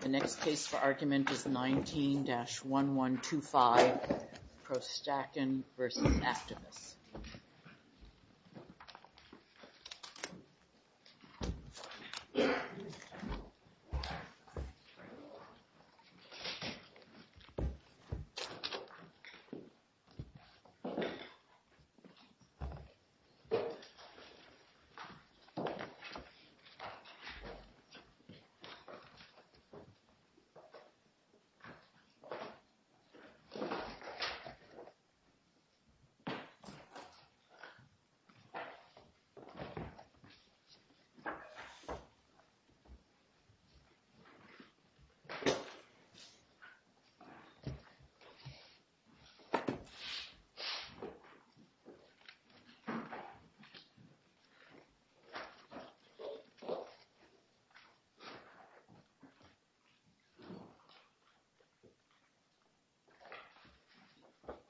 The next case for argument is 19-1125, ProStrakan v. Actavis. ProStrakan, Inc. v. Actavis Laboratories UT,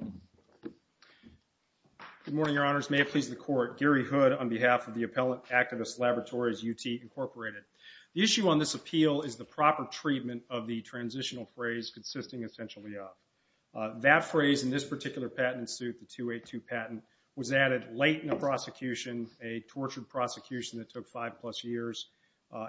Inc. Good morning, Your Honors, may it please the Court, Gary Hood on behalf of the appellate Actavis Laboratories UT, Inc. The issue on this appeal is the proper treatment of the transitional phrase, consisting essentially of. That phrase in this particular patent suit, the 282 patent, was added late in the prosecution, a tortured prosecution that took five plus years.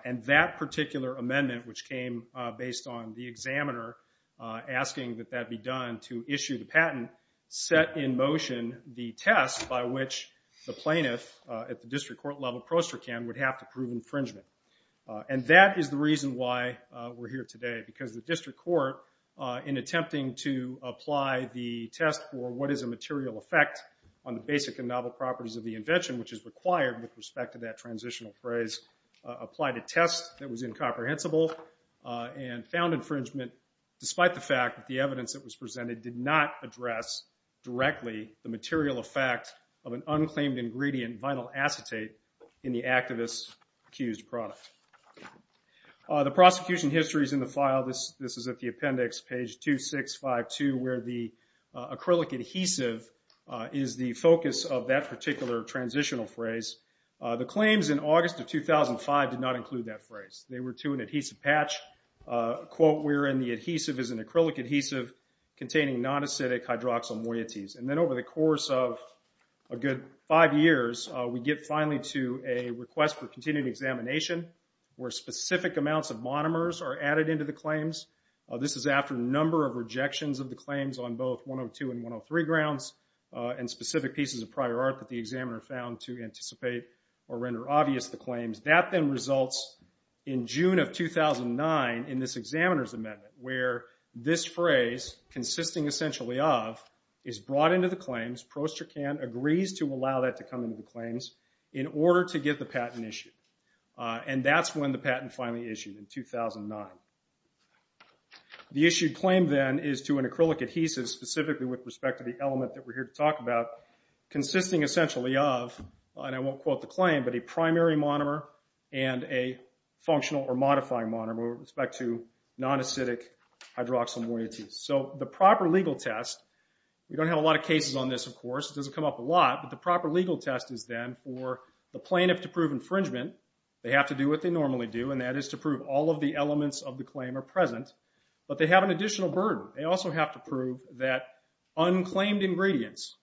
And that particular amendment, which came based on the examiner asking that that be done to issue the patent, set in motion the test by which the plaintiff at the district court level, ProStrakan, would have to prove infringement. And that is the reason why we're here today, because the district court, in attempting to apply the test for what is a material effect on the basic and novel properties of the invention, which is required with respect to that transitional phrase, applied a test that was incomprehensible and found infringement, despite the fact that the evidence that was presented did not address directly the material effect of an unclaimed ingredient, vinyl acetate, in the Actavis accused product. The prosecution history is in the file. This is at the appendix, page 2652, where the acrylic adhesive is the focus of that particular transitional phrase. The claims in August of 2005 did not include that phrase. They were to an adhesive patch, quote, wherein the adhesive is an acrylic adhesive containing non-acidic hydroxyl moieties. And then over the course of a good five years, we get finally to a request for continued examination, where specific amounts of monomers are added into the claims. This is after a number of rejections of the claims on both 102 and 103 grounds, and specific pieces of prior art that the examiner found to anticipate or render obvious the claims. That then results in June of 2009, in this examiner's amendment, where this phrase, consisting essentially of, is brought into the claims, Prost-Tracan agrees to allow that to come into the claims, in order to get the patent issued. And that's when the patent finally issued, in 2009. The issued claim then is to an acrylic adhesive, specifically with respect to the element that we're here to talk about, consisting essentially of, and I won't quote the claim, but a primary monomer and a functional or modifying monomer with respect to non-acidic hydroxyl moieties. So the proper legal test, we don't have a lot of cases on this, of course, it doesn't come up a lot, but the proper legal test is then for the plaintiff to prove infringement, they have to do what they normally do, and that is to prove all of the elements of the claim are present, but they have an additional burden. They also have to prove that unclaimed ingredients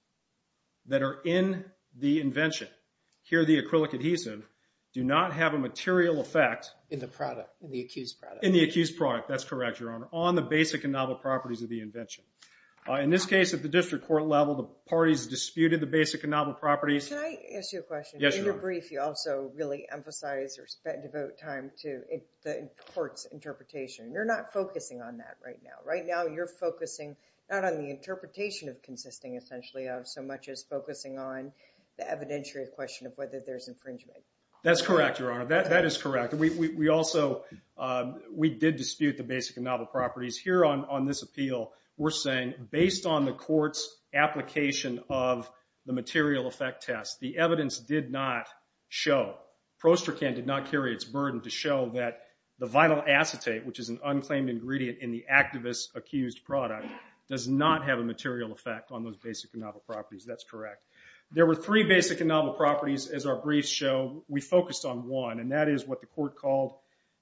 that are in the invention, here the acrylic adhesive, do not have a material effect. In the product, in the accused product. In the accused product, that's correct, Your Honor, on the basic and novel properties of the invention. In this case, at the district court level, the parties disputed the basic and novel properties. Can I ask you a question? Yes, Your Honor. In your brief, you also really emphasize or devote time to the court's interpretation. You're not focusing on that right now. Right now, you're focusing not on the interpretation of consisting essentially of, so much as focusing on the evidentiary question of whether there's infringement. That's correct, Your Honor. That is correct. We also, we did dispute the basic and novel properties. Here on this appeal, we're saying, based on the court's application of the material effect test, the evidence did not show, Prostercan did not carry its burden to show that the vinyl acetate, which is an unclaimed ingredient in the activist's accused product, does not have a material effect on those basic and novel properties. That's correct. There were three basic and novel properties, as our briefs show. We focused on one, and that is what the court called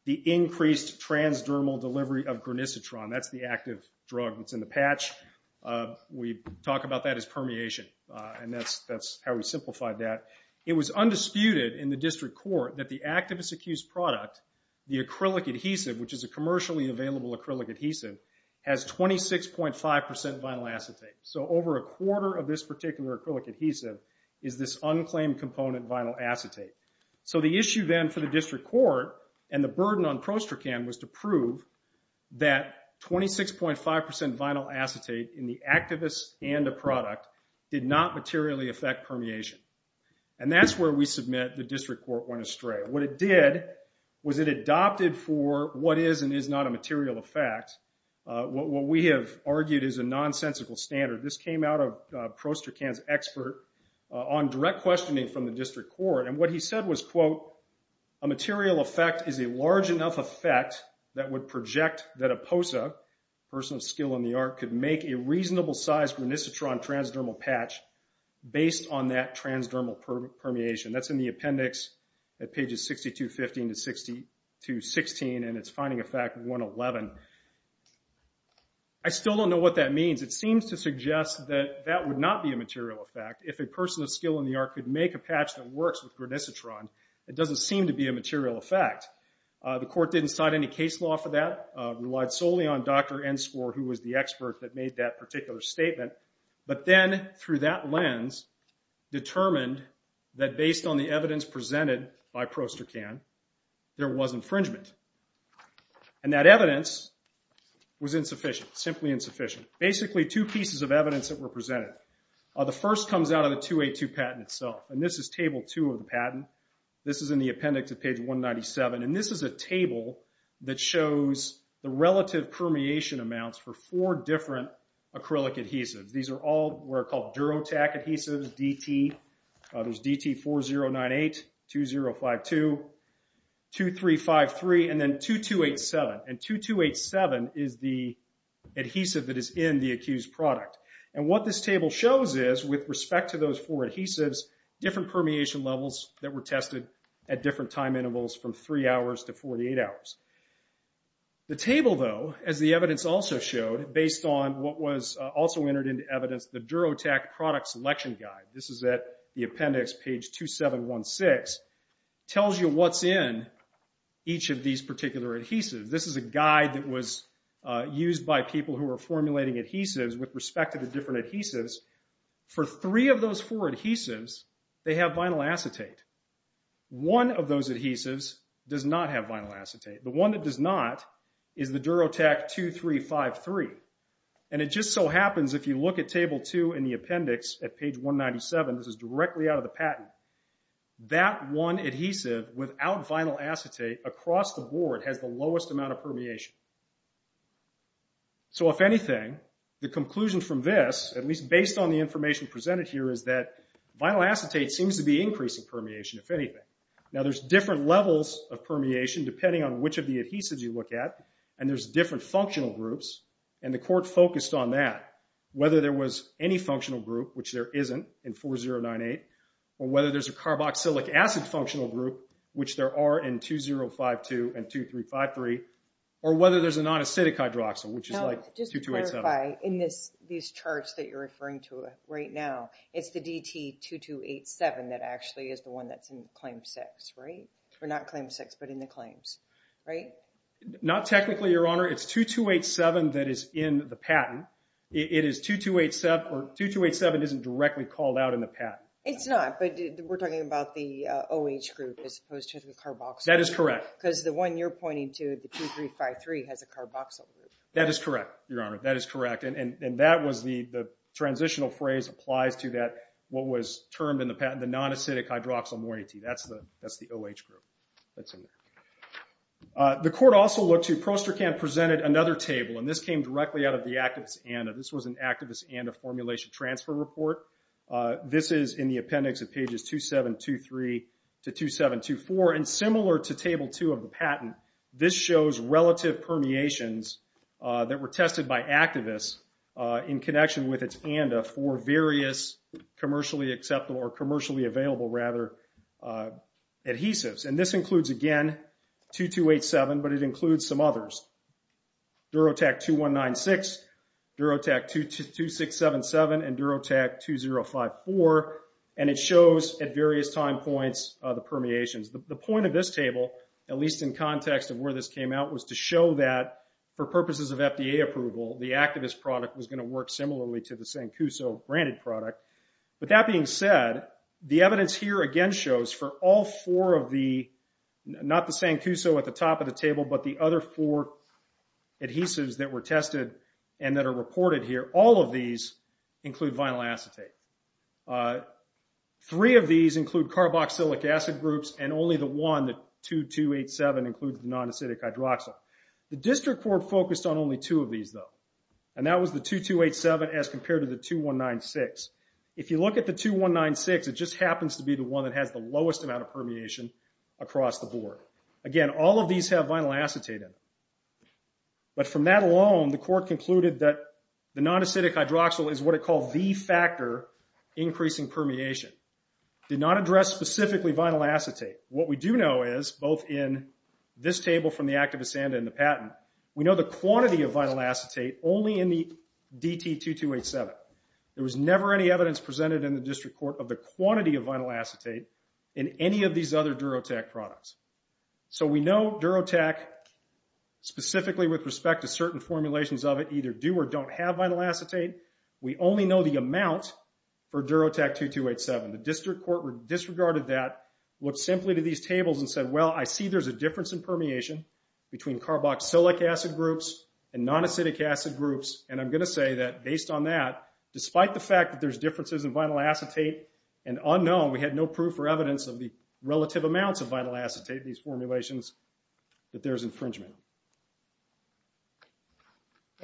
the increased transdermal delivery of granicitron. That's the active drug that's in the patch. We talk about that as permeation, and that's how we simplified that. It was undisputed in the district court that the activist's accused product, the acrylic adhesive, which is a commercially available acrylic adhesive, has 26.5% vinyl acetate. Over a quarter of this particular acrylic adhesive is this unclaimed component vinyl acetate. The issue then for the district court and the burden on Prostercan was to prove that 26.5% vinyl acetate in the activist and the product did not materially affect permeation. That's where we submit the district court went astray. What it did was it adopted for what is and is not a material effect, what we have argued is a nonsensical standard. This came out of Prostercan's expert on direct questioning from the district court. What he said was, quote, a material effect is a large enough effect that would project that a POSA, person of skill in the art, could make a reasonable size granicitron transdermal patch based on that transdermal permeation. That's in the appendix at pages 62, 15 to 16, and it's finding effect 111. I still don't know what that means. It seems to suggest that that would not be a material effect if a person of skill in a patch that works with granicitron, it doesn't seem to be a material effect. The court didn't cite any case law for that, relied solely on Dr. Enscore, who was the expert that made that particular statement, but then through that lens determined that based on the evidence presented by Prostercan, there was infringement. And that evidence was insufficient, simply insufficient. Basically two pieces of evidence that were presented. The first comes out of the 282 patent itself, and this is table two of the patent. This is in the appendix at page 197, and this is a table that shows the relative permeation amounts for four different acrylic adhesives. These are all what are called Durotac adhesives, DT, there's DT 4098, 2052, 2353, and then 2287. And 2287 is the adhesive that is in the accused product. And what this table shows is, with respect to those four adhesives, different permeation levels that were tested at different time intervals from three hours to 48 hours. The table, though, as the evidence also showed, based on what was also entered into evidence, the Durotac product selection guide, this is at the appendix, page 2716, tells you what's in each of these particular adhesives. This is a guide that was used by people who were formulating adhesives with respect to the different adhesives. For three of those four adhesives, they have vinyl acetate. One of those adhesives does not have vinyl acetate. The one that does not is the Durotac 2353. And it just so happens, if you look at table two in the appendix at page 197, this is directly out of the patent, that one adhesive without vinyl acetate across the board has the lowest amount of permeation. So if anything, the conclusion from this, at least based on the information presented here, is that vinyl acetate seems to be increasing permeation, if anything. Now there's different levels of permeation, depending on which of the adhesives you look at, and there's different functional groups, and the court focused on that. Whether there was any functional group, which there isn't in 4098, or whether there's a non-acidic hydroxyl, which is like 2287. Now, just to clarify, in these charts that you're referring to right now, it's the DT2287 that actually is the one that's in claim six, right? Or not claim six, but in the claims, right? Not technically, Your Honor. It's 2287 that is in the patent. It is 2287, or 2287 isn't directly called out in the patent. It's not, but we're talking about the OH group, as opposed to the carboxyl group. That is correct. Because the one you're pointing to, the 2353, has a carboxyl group. That is correct, Your Honor. That is correct, and that was the transitional phrase applies to that, what was termed in the patent, the non-acidic hydroxyl moiety. That's the OH group that's in there. The court also looked to, Prostercam presented another table, and this came directly out of the Activist ANDA. This was an Activist ANDA formulation transfer report. This is in the appendix of pages 2723 to 2724, and similar to table two of the patent, this shows relative permeations that were tested by Activists in connection with its ANDA for various commercially acceptable, or commercially available, rather, adhesives. This includes, again, 2287, but it includes some others, Durotac 2196, Durotac 2677, and Durotac 2054, and it shows, at various time points, the permeations. The point of this table, at least in context of where this came out, was to show that, for purposes of FDA approval, the Activist product was going to work similarly to the Sancuso branded product. With that being said, the evidence here, again, shows for all four of the, not the Sancuso at the top of the table, but the other four adhesives that were tested and that are reported here, all of these include vinyl acetate. Three of these include carboxylic acid groups, and only the one, the 2287, includes the non-acidic hydroxyl. The district court focused on only two of these, though, and that was the 2287 as compared to the 2196. If you look at the 2196, it just happens to be the one that has the lowest amount of permeation across the board. Again, all of these have vinyl acetate in them. But from that alone, the court concluded that the non-acidic hydroxyl is what it called the factor increasing permeation. Did not address specifically vinyl acetate. What we do know is, both in this table from the Activist and in the patent, we know the quantity of vinyl acetate only in the DT2287. There was never any evidence presented in the district court of the quantity of vinyl acetate in any of these other Durotec products. So we know Durotec, specifically with respect to certain formulations of it, either do or don't have vinyl acetate. We only know the amount for Durotec 2287. The district court disregarded that, looked simply to these tables and said, well, I see there's a difference in permeation between carboxylic acid groups and non-acidic acid groups, and I'm going to say that, based on that, despite the fact that there's differences in vinyl acetate and unknown, we had no proof or evidence of the relative amounts of vinyl acetate in these formulations that there's infringement.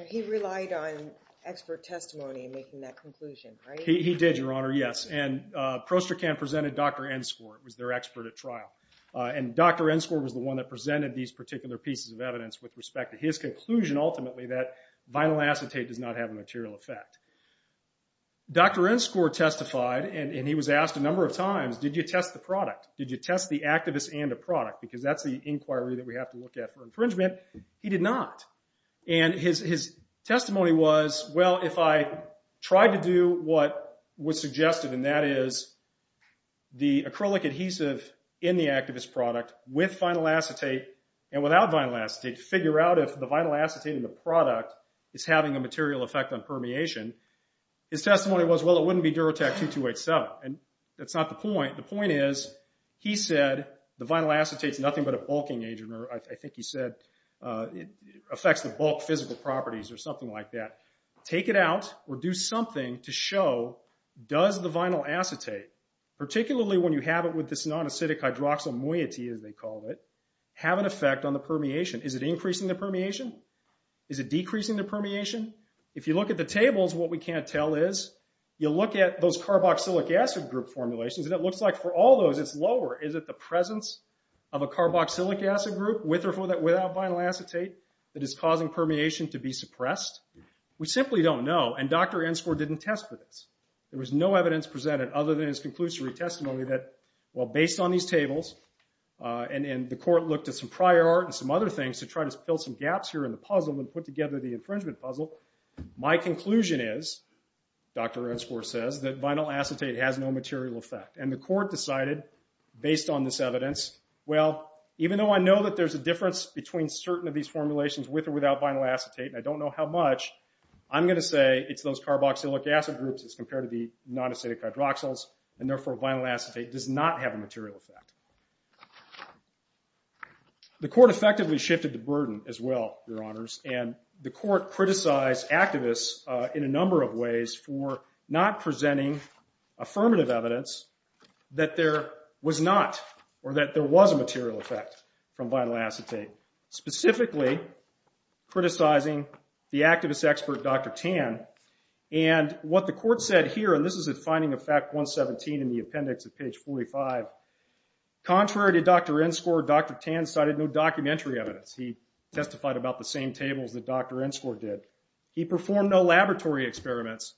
He relied on expert testimony in making that conclusion, right? He did, Your Honor, yes. And Prostracan presented Dr. Ensgore, who was their expert at trial. And Dr. Ensgore was the one that presented these particular pieces of evidence with respect to his conclusion, ultimately, that vinyl acetate does not have a material effect. Dr. Ensgore testified, and he was asked a number of times, did you test the product? Did you test the activist and the product? Because that's the inquiry that we have to look at for infringement. He did not. And his testimony was, well, if I tried to do what was suggested, and that is the acrylic adhesive in the activist product with vinyl acetate and without vinyl acetate to figure out if the vinyl acetate in the product is having a material effect on permeation, his testimony was, well, it wouldn't be Durotec 2287. And that's not the point. The point is, he said the vinyl acetate is nothing but a bulking agent, or I think he said it affects the bulk physical properties or something like that. Take it out or do something to show, does the vinyl acetate, particularly when you have it with this non-acidic hydroxyl moiety, as they call it, have an effect on the permeation? Is it increasing the permeation? Is it decreasing the permeation? If you look at the tables, what we can't tell is, you look at those carboxylic acid group formulations, and it looks like for all those, it's lower. Is it the presence of a carboxylic acid group with or without vinyl acetate that is causing permeation to be suppressed? We simply don't know. And Dr. Enscore didn't test for this. There was no evidence presented other than his conclusory testimony that, well, based on these tables, and the court looked at some prior art and some other things to try to fill some gaps here in the puzzle and put together the infringement puzzle, my conclusion is, Dr. Enscore says, that vinyl acetate has no material effect. And the court decided, based on this evidence, well, even though I know that there's a difference between certain of these formulations with or without vinyl acetate, and I don't know how much, I'm going to say it's those carboxylic acid groups as compared to the non-acidic hydroxyls, and therefore vinyl acetate does not have a material effect. The court effectively shifted the burden as well, Your Honors, and the court criticized activists in a number of ways for not presenting affirmative evidence that there was not, or that there was a material effect from vinyl acetate, specifically criticizing the activist expert Dr. Tan. And what the court said here, and this is at Finding of Fact 117 in the appendix at page 45, contrary to Dr. Enscore, Dr. Tan cited no documentary evidence. He testified about the same tables that Dr. Enscore did. He performed no laboratory experiments.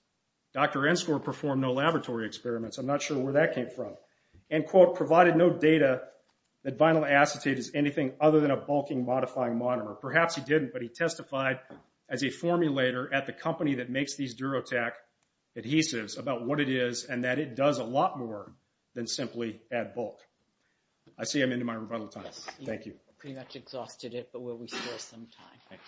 Dr. Enscore performed no laboratory experiments. I'm not sure where that came from. And quote, provided no data that vinyl acetate is anything other than a bulking modifying monomer. Perhaps he didn't, but he testified as a formulator at the company that makes these Durotec adhesives about what it is and that it does a lot more than simply add bulk. I see I'm into my rebuttal time. Thank you. I think we've pretty much exhausted it, but will we still have some time?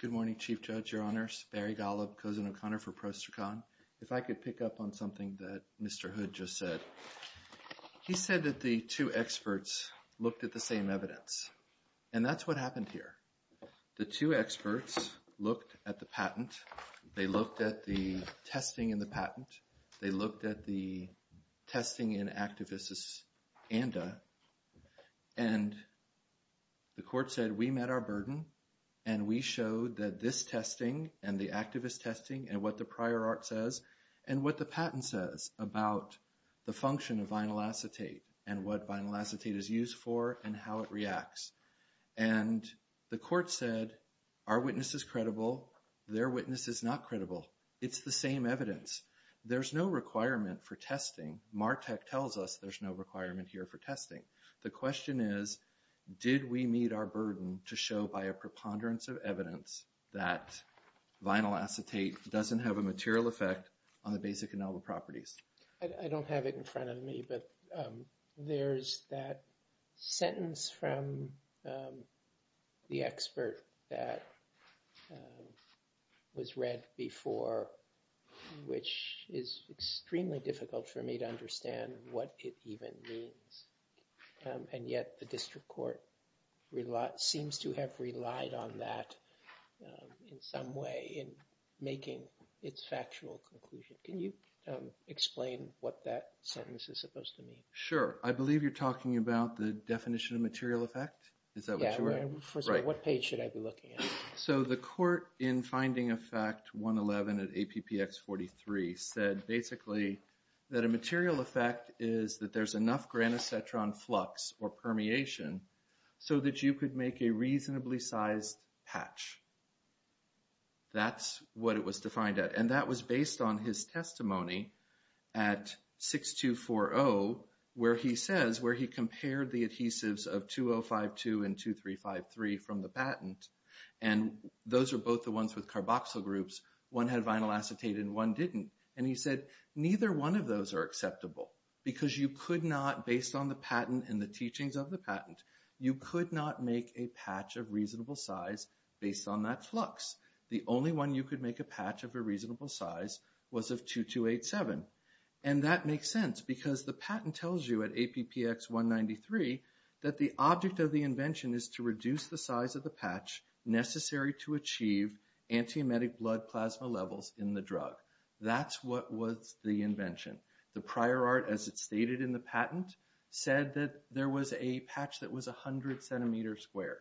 Good morning, Chief Judge, Your Honors. Barry Golub, Cousin O'Connor for PROSTRCON. If I could pick up on something that Mr. Hood just said. He said that the two experts looked at the same evidence. And that's what happened here. The two experts looked at the patent. They looked at the testing in the patent. They looked at the testing in activist's ANDA. And the court said, we met our burden and we showed that this testing and the activist function of vinyl acetate and what vinyl acetate is used for and how it reacts. And the court said, our witness is credible. Their witness is not credible. It's the same evidence. There's no requirement for testing. MARTEC tells us there's no requirement here for testing. The question is, did we meet our burden to show by a preponderance of evidence that vinyl acetate doesn't have a material effect on the basic ineligible properties? I don't have it in front of me. But there's that sentence from the expert that was read before, which is extremely difficult for me to understand what it even means. And yet, the district court seems to have relied on that in some way in making its factual conclusion. Can you explain what that sentence is supposed to mean? Sure. I believe you're talking about the definition of material effect. Is that what you're? First of all, what page should I be looking at? So the court in finding effect 111 at APPX 43 said, basically, that a material effect is that there's enough granacetron flux or permeation so that you could make a reasonably sized patch. That's what it was defined at. And that was based on his testimony at 6240, where he says, where he compared the adhesives of 2052 and 2353 from the patent. And those are both the ones with carboxyl groups. One had vinyl acetate and one didn't. And he said, neither one of those are acceptable. Because you could not, based on the patent and the teachings of the patent, you could not make a patch of reasonable size based on that flux. The only one you could make a patch of a reasonable size was of 2287. And that makes sense, because the patent tells you at APPX 193 that the object of the invention is to reduce the size of the patch necessary to achieve anti-emetic blood plasma levels in the drug. That's what was the invention. The prior art, as it's stated in the patent, said that there was a patch that was 100 centimeters squared.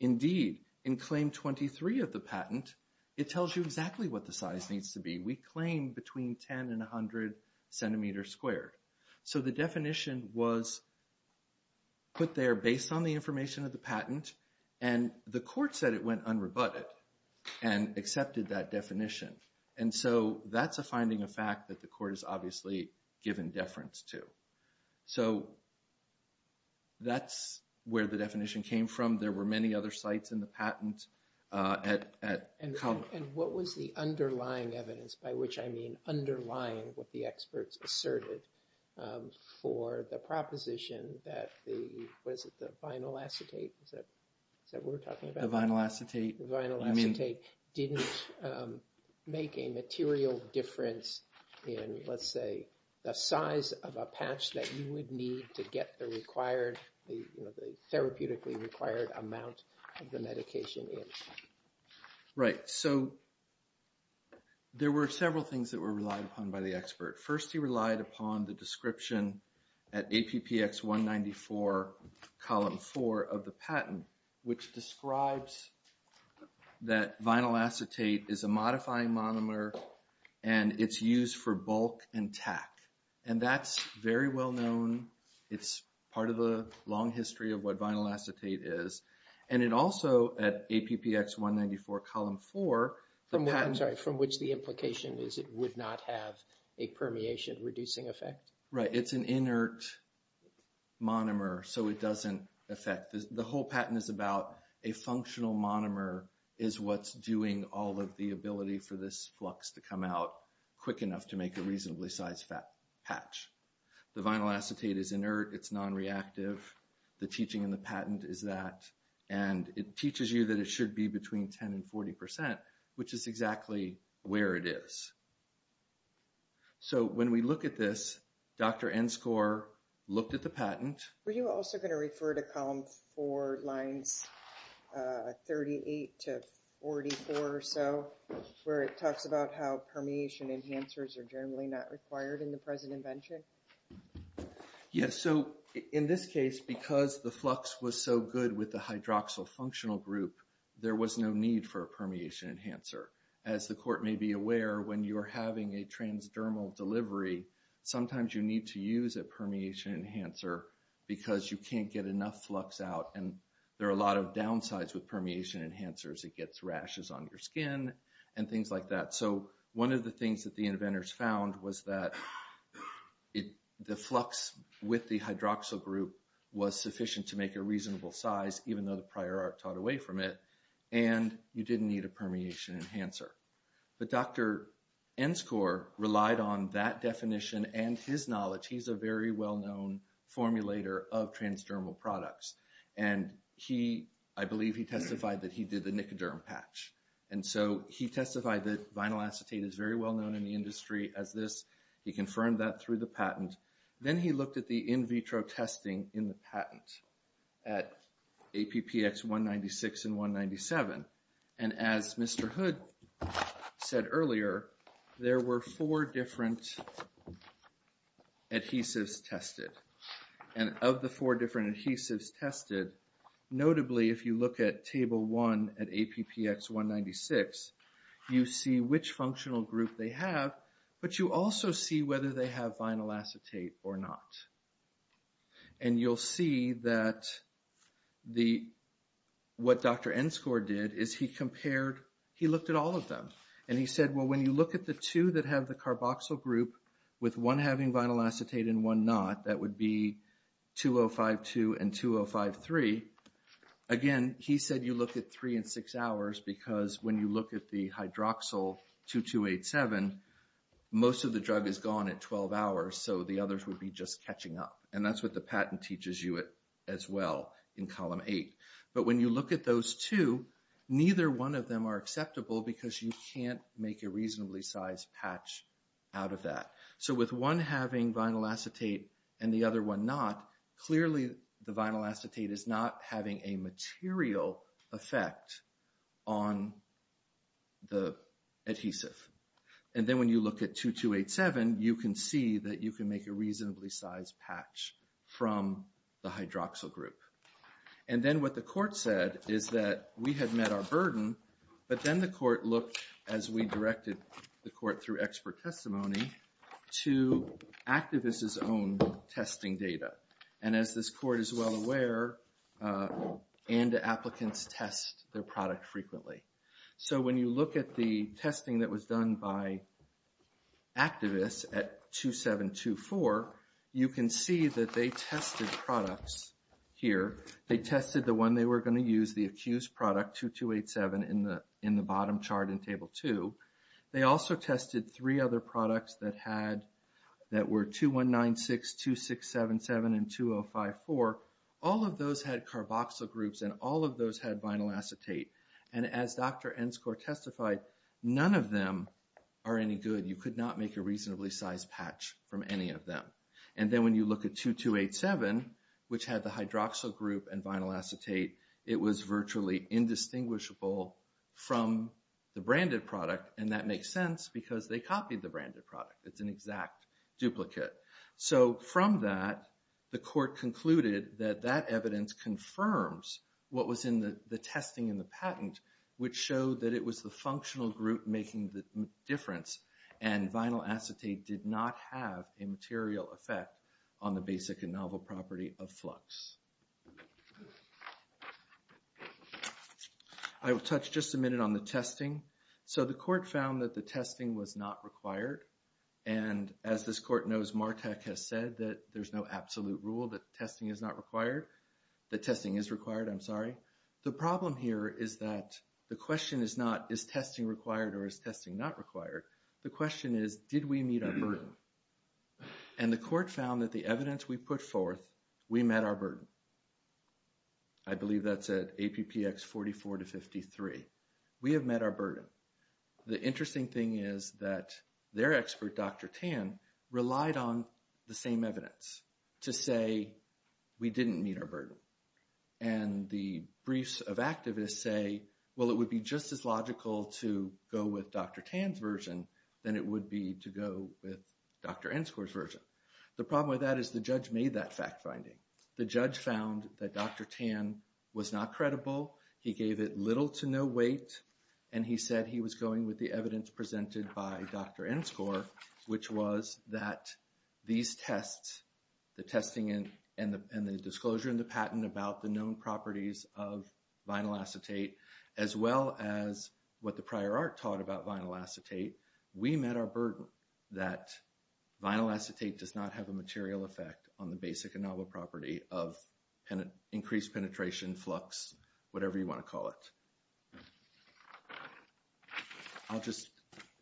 Indeed, in claim 23 of the patent, it tells you exactly what the size needs to be. We claim between 10 and 100 centimeters squared. So the definition was put there based on the information of the patent. And the court said it went unrebutted and accepted that definition. And so that's a finding of fact that the court has obviously given deference to. So that's where the definition came from. There were many other sites in the patent at Common. And what was the underlying evidence, by which I mean underlying what the experts asserted for the proposition that the, what is it, the vinyl acetate, is that what we're talking about? The vinyl acetate. The vinyl acetate didn't make a material difference in, let's say, the size of a patch that you would need to get the required, the therapeutically required amount of the medication in. Right. So there were several things that were relied upon by the expert. First, he relied upon the description at APPX 194, column 4 of the patent, which describes that vinyl acetate is a modifying monomer and it's used for bulk and tack. And that's very well known. It's part of the long history of what vinyl acetate is. And it also, at APPX 194, column 4, the patent- I'm sorry, from which the implication is it would not have a permeation reducing effect? Right. It's an inert monomer, so it doesn't affect. The whole patent is about a functional monomer is what's doing all of the ability for this flux to come out quick enough to make a reasonably sized patch. The vinyl acetate is inert, it's non-reactive. The teaching in the patent is that. And it teaches you that it should be between 10% and 40%, which is exactly where it is. So when we look at this, Dr. Enscore looked at the patent- Were you also going to refer to column 4, lines 38 to 44 or so, where it talks about how permeation enhancers are generally not required in the present invention? Yes. In this case, because the flux was so good with the hydroxyl functional group, there was no need for a permeation enhancer. As the court may be aware, when you're having a transdermal delivery, sometimes you need to use a permeation enhancer because you can't get enough flux out and there are a lot of downsides with permeation enhancers. It gets rashes on your skin and things like that. So one of the things that the inventors found was that the flux with the hydroxyl group was sufficient to make a reasonable size, even though the prior art taught away from it, and you didn't need a permeation enhancer. But Dr. Enscore relied on that definition and his knowledge. He's a very well-known formulator of transdermal products. And I believe he testified that he did the nicoderm patch. And so he testified that vinyl acetate is very well-known in the industry as this. He confirmed that through the patent. Then he looked at the in vitro testing in the patent at APPX 196 and 197. And as Mr. Hood said earlier, there were four different adhesives tested. And of the four different adhesives tested, notably, if you look at Table 1 at APPX 196, you see which functional group they have. But you also see whether they have vinyl acetate or not. And you'll see that what Dr. Enscore did is he compared, he looked at all of them. And he said, well, when you look at the two that have the carboxyl group with one having vinyl acetate and one not, that would be 2052 and 2053. Again, he said you look at three and six hours. Because when you look at the hydroxyl 2287, most of the drug is gone at 12 hours. So the others would be just catching up. And that's what the patent teaches you as well in Column 8. But when you look at those two, neither one of them are acceptable because you can't make a reasonably sized patch out of that. So with one having vinyl acetate and the other one not, clearly, the vinyl acetate is not having a material effect on the adhesive. And then when you look at 2287, you can see that you can make a reasonably sized patch from the hydroxyl group. And then what the court said is that we had met our burden. But then the court looked, as we directed the court through expert testimony, to activists' own testing data. And as this court is well aware, ANDA applicants test their product frequently. So when you look at the testing that was done by activists at 2724, you can see that they tested products here. They tested the one they were going to use, the accused product 2287 in the bottom chart in Table 2. They also tested three other products that were 2196, 2677, and 2054. All of those had carboxyl groups, and all of those had vinyl acetate. And as Dr. Enscore testified, none of them are any good. You could not make a reasonably sized patch from any of them. And then when you look at 2287, which had the hydroxyl group and vinyl acetate, it was virtually indistinguishable from the branded product. And that makes sense, because they copied the branded product. It's an exact duplicate. So from that, the court concluded that that evidence confirms what was in the testing in the patent, which showed that it was the functional group making the difference. And vinyl acetate did not have a material effect on the basic and novel property of flux. I will touch just a minute on the testing. So the court found that the testing was not required. And as this court knows, Martek has said that there's no absolute rule that testing is not required. That testing is required, I'm sorry. The problem here is that the question is not, is testing required or is testing not required? The question is, did we meet our burden? And the court found that the evidence we put forth, we met our burden. I believe that's at APPX 44 to 53. We have met our burden. The interesting thing is that their expert, Dr. Tan, relied on the same evidence to say we didn't meet our burden. And the briefs of activists say, well, it would be just as logical to go with Dr. Tan's version than it would be to go with Dr. Enskor's version. The problem with that is the judge made that fact finding. The judge found that Dr. Tan was not credible. He gave it little to no weight. And he said he was going with the evidence presented by Dr. Enskor, which was that these tests, the testing and the disclosure and the patent about the known properties of vinyl acetate, as well as what the prior art taught about vinyl acetate, we met our burden that vinyl acetate does not have a material effect on the basic and novel property of increased penetration, flux, whatever you want to call it. I'll just,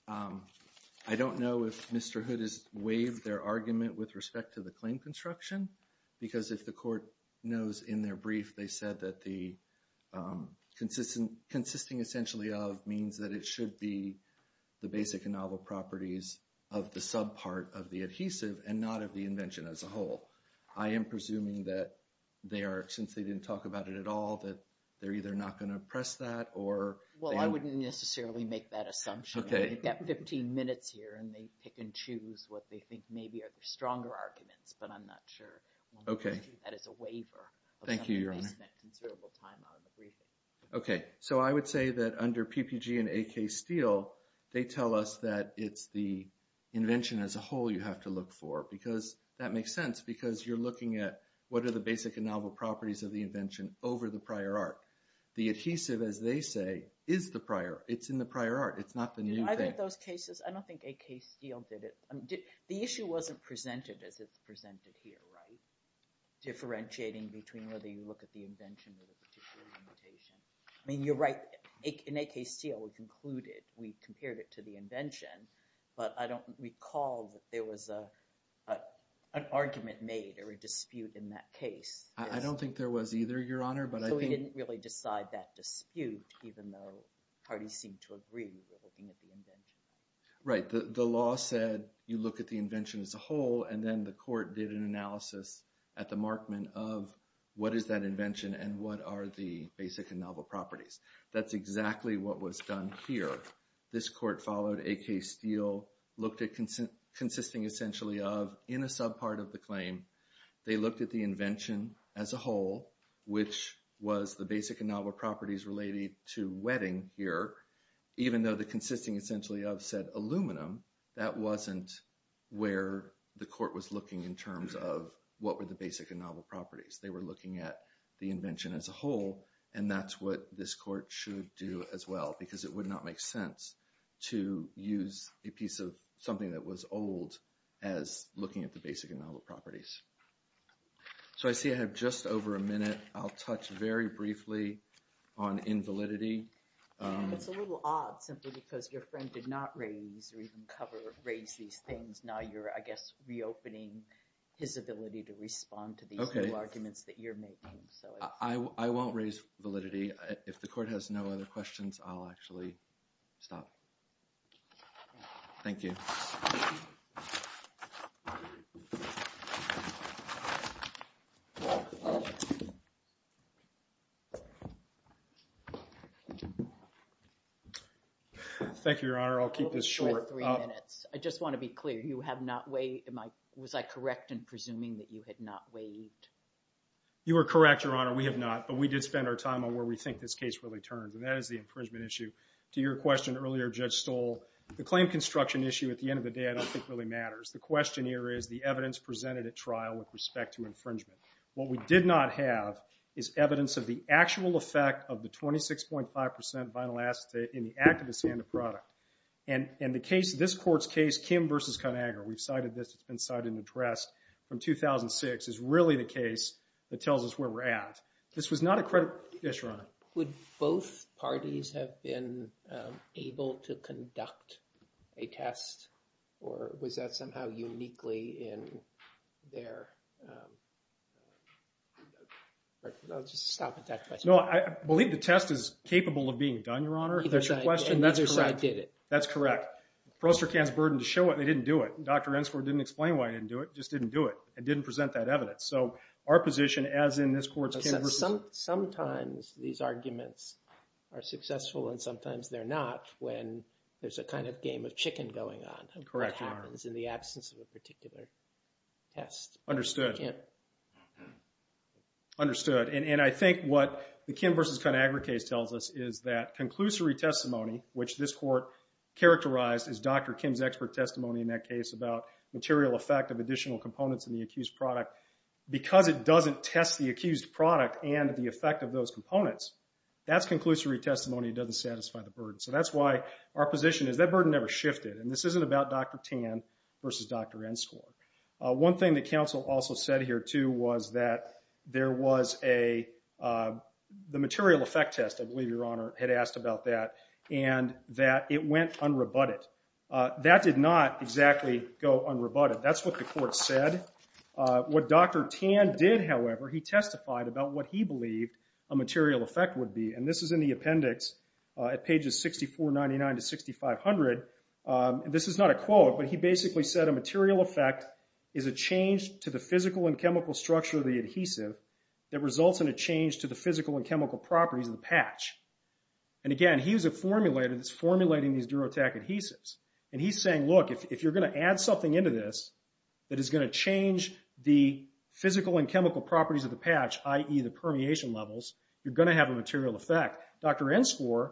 I don't know if Mr. Hood has waived their argument with respect to the claim construction, because if the court knows in their brief, they said that the consisting essentially of means that it should be the basic and novel properties of the subpart of the adhesive and not of the invention as a whole. I am presuming that they are, since they didn't talk about it at all, that they're either not going to press that or... Well, I wouldn't necessarily make that assumption. Okay. We've got 15 minutes here and they pick and choose what they think maybe are the stronger arguments, but I'm not sure. Okay. That is a waiver. Thank you, Your Honor. They spent considerable time on the briefing. Okay. So I would say that under PPG and AK Steel, they tell us that it's the invention as a whole you have to look for, because that makes sense, because you're looking at what are the basic and novel properties of the invention over the prior art. The adhesive, as they say, is the prior. It's in the prior art. It's not the new thing. I think those cases, I don't think AK Steel did it. The issue wasn't presented as it's presented here, right? Differentiating between whether you look at the invention with a particular limitation. I mean, you're right. In AK Steel, we conclude it. We compared it to the invention, but I don't recall that there was an argument made or a dispute in that case. I don't think there was either, Your Honor, but I think— So we didn't really decide that dispute, even though parties seemed to agree we were looking at the invention. Right. The law said you look at the invention as a whole, and then the court did an analysis at the markment of what is that invention and what are the basic and novel properties. That's exactly what was done here. This court followed AK Steel, looked at consisting essentially of, in a subpart of the claim, they looked at the invention as a whole, which was the basic and novel properties related to wetting here. Even though the consisting essentially of said aluminum, that wasn't where the court was looking in terms of what were the basic and novel properties. They were looking at the invention as a whole, and that's what this court should do as well, because it would not make sense to use a piece of something that was old as looking at the basic and novel properties. So I see I have just over a minute. I'll touch very briefly on invalidity. It's a little odd simply because your friend did not raise or even cover, raise these things. Now you're, I guess, reopening his ability to respond to these new arguments that you're making. I won't raise validity. If the court has no other questions, I'll actually stop. Thank you. Thank you, Your Honor. I'll keep this short. I just want to be clear. You have not waived. Was I correct in presuming that you had not waived? You are correct, Your Honor. We have not. But we did spend our time on where we think this case really turns, and that is the infringement issue. To your question earlier, Judge Stoll, the claim construction issue at the end of the day I don't think really matters. The question here is the evidence presented at trial with respect to infringement. What we did not have is evidence of the actual effect of the 26.5% vinyl acetate in the activist's hand of product. And the case, this court's case, Kim v. Conagher, we've cited this. It's been cited and addressed from 2006. It's really the case that tells us where we're at. This was not a credit issue, Your Honor. Would both parties have been able to conduct a test? Or was that somehow uniquely in their... I'll just stop at that question. No, I believe the test is capable of being done, Your Honor. If that's your question, that's correct. That's correct. Prostercan's burden to show it, they didn't do it. Dr. Ensford didn't explain why he didn't do it. Just didn't do it. It didn't present that evidence. So our position as in this court's... Sometimes these arguments are successful and sometimes they're not when there's a kind of game of chicken going on. Correct, Your Honor. What happens in the absence of a particular test. Understood. Understood. And I think what the Kim v. Conagher case tells us is that conclusory testimony, which this court characterized as Dr. Kim's expert testimony in that case about material effect of additional components in the accused product, because it doesn't test the accused product and the effect of those components, that's conclusory testimony. It doesn't satisfy the burden. So that's why our position is that burden never shifted. And this isn't about Dr. Tan versus Dr. Ensford. One thing that counsel also said here too was that there was a... The material effect test, I believe, Your Honor, had asked about that and that it went unrebutted. That did not exactly go unrebutted. That's what the court said. What Dr. Tan did, however, he testified about what he believed a material effect would be. And this is in the appendix at pages 6499 to 6500. This is not a quote, but he basically said a material effect is a change to the physical and chemical structure of the adhesive that results in a change to the physical and chemical properties of the patch. And again, he's a formulator that's formulating these Durotac adhesives. And he's saying, look, if you're going to add something into this that is going to change the physical and chemical properties of the patch, i.e. the permeation levels, you're going to have a material effect. Dr. Ensford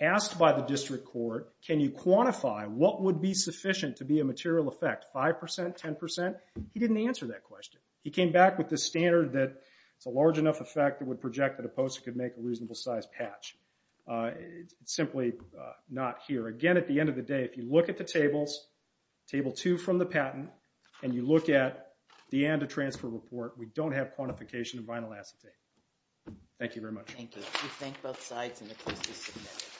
asked by the district court, can you quantify what would be sufficient to be a material effect? Five percent? Ten percent? He didn't answer that question. He came back with the standard that it's a large enough effect that would project that a poster could make a reasonable size patch. Simply not here. Again, at the end of the day, if you look at the tables, table two from the patent, and you look at the ANDA transfer report, we don't have quantification of vinyl acetate. Thank you very much. Thank you. We thank both sides in the consistent manner.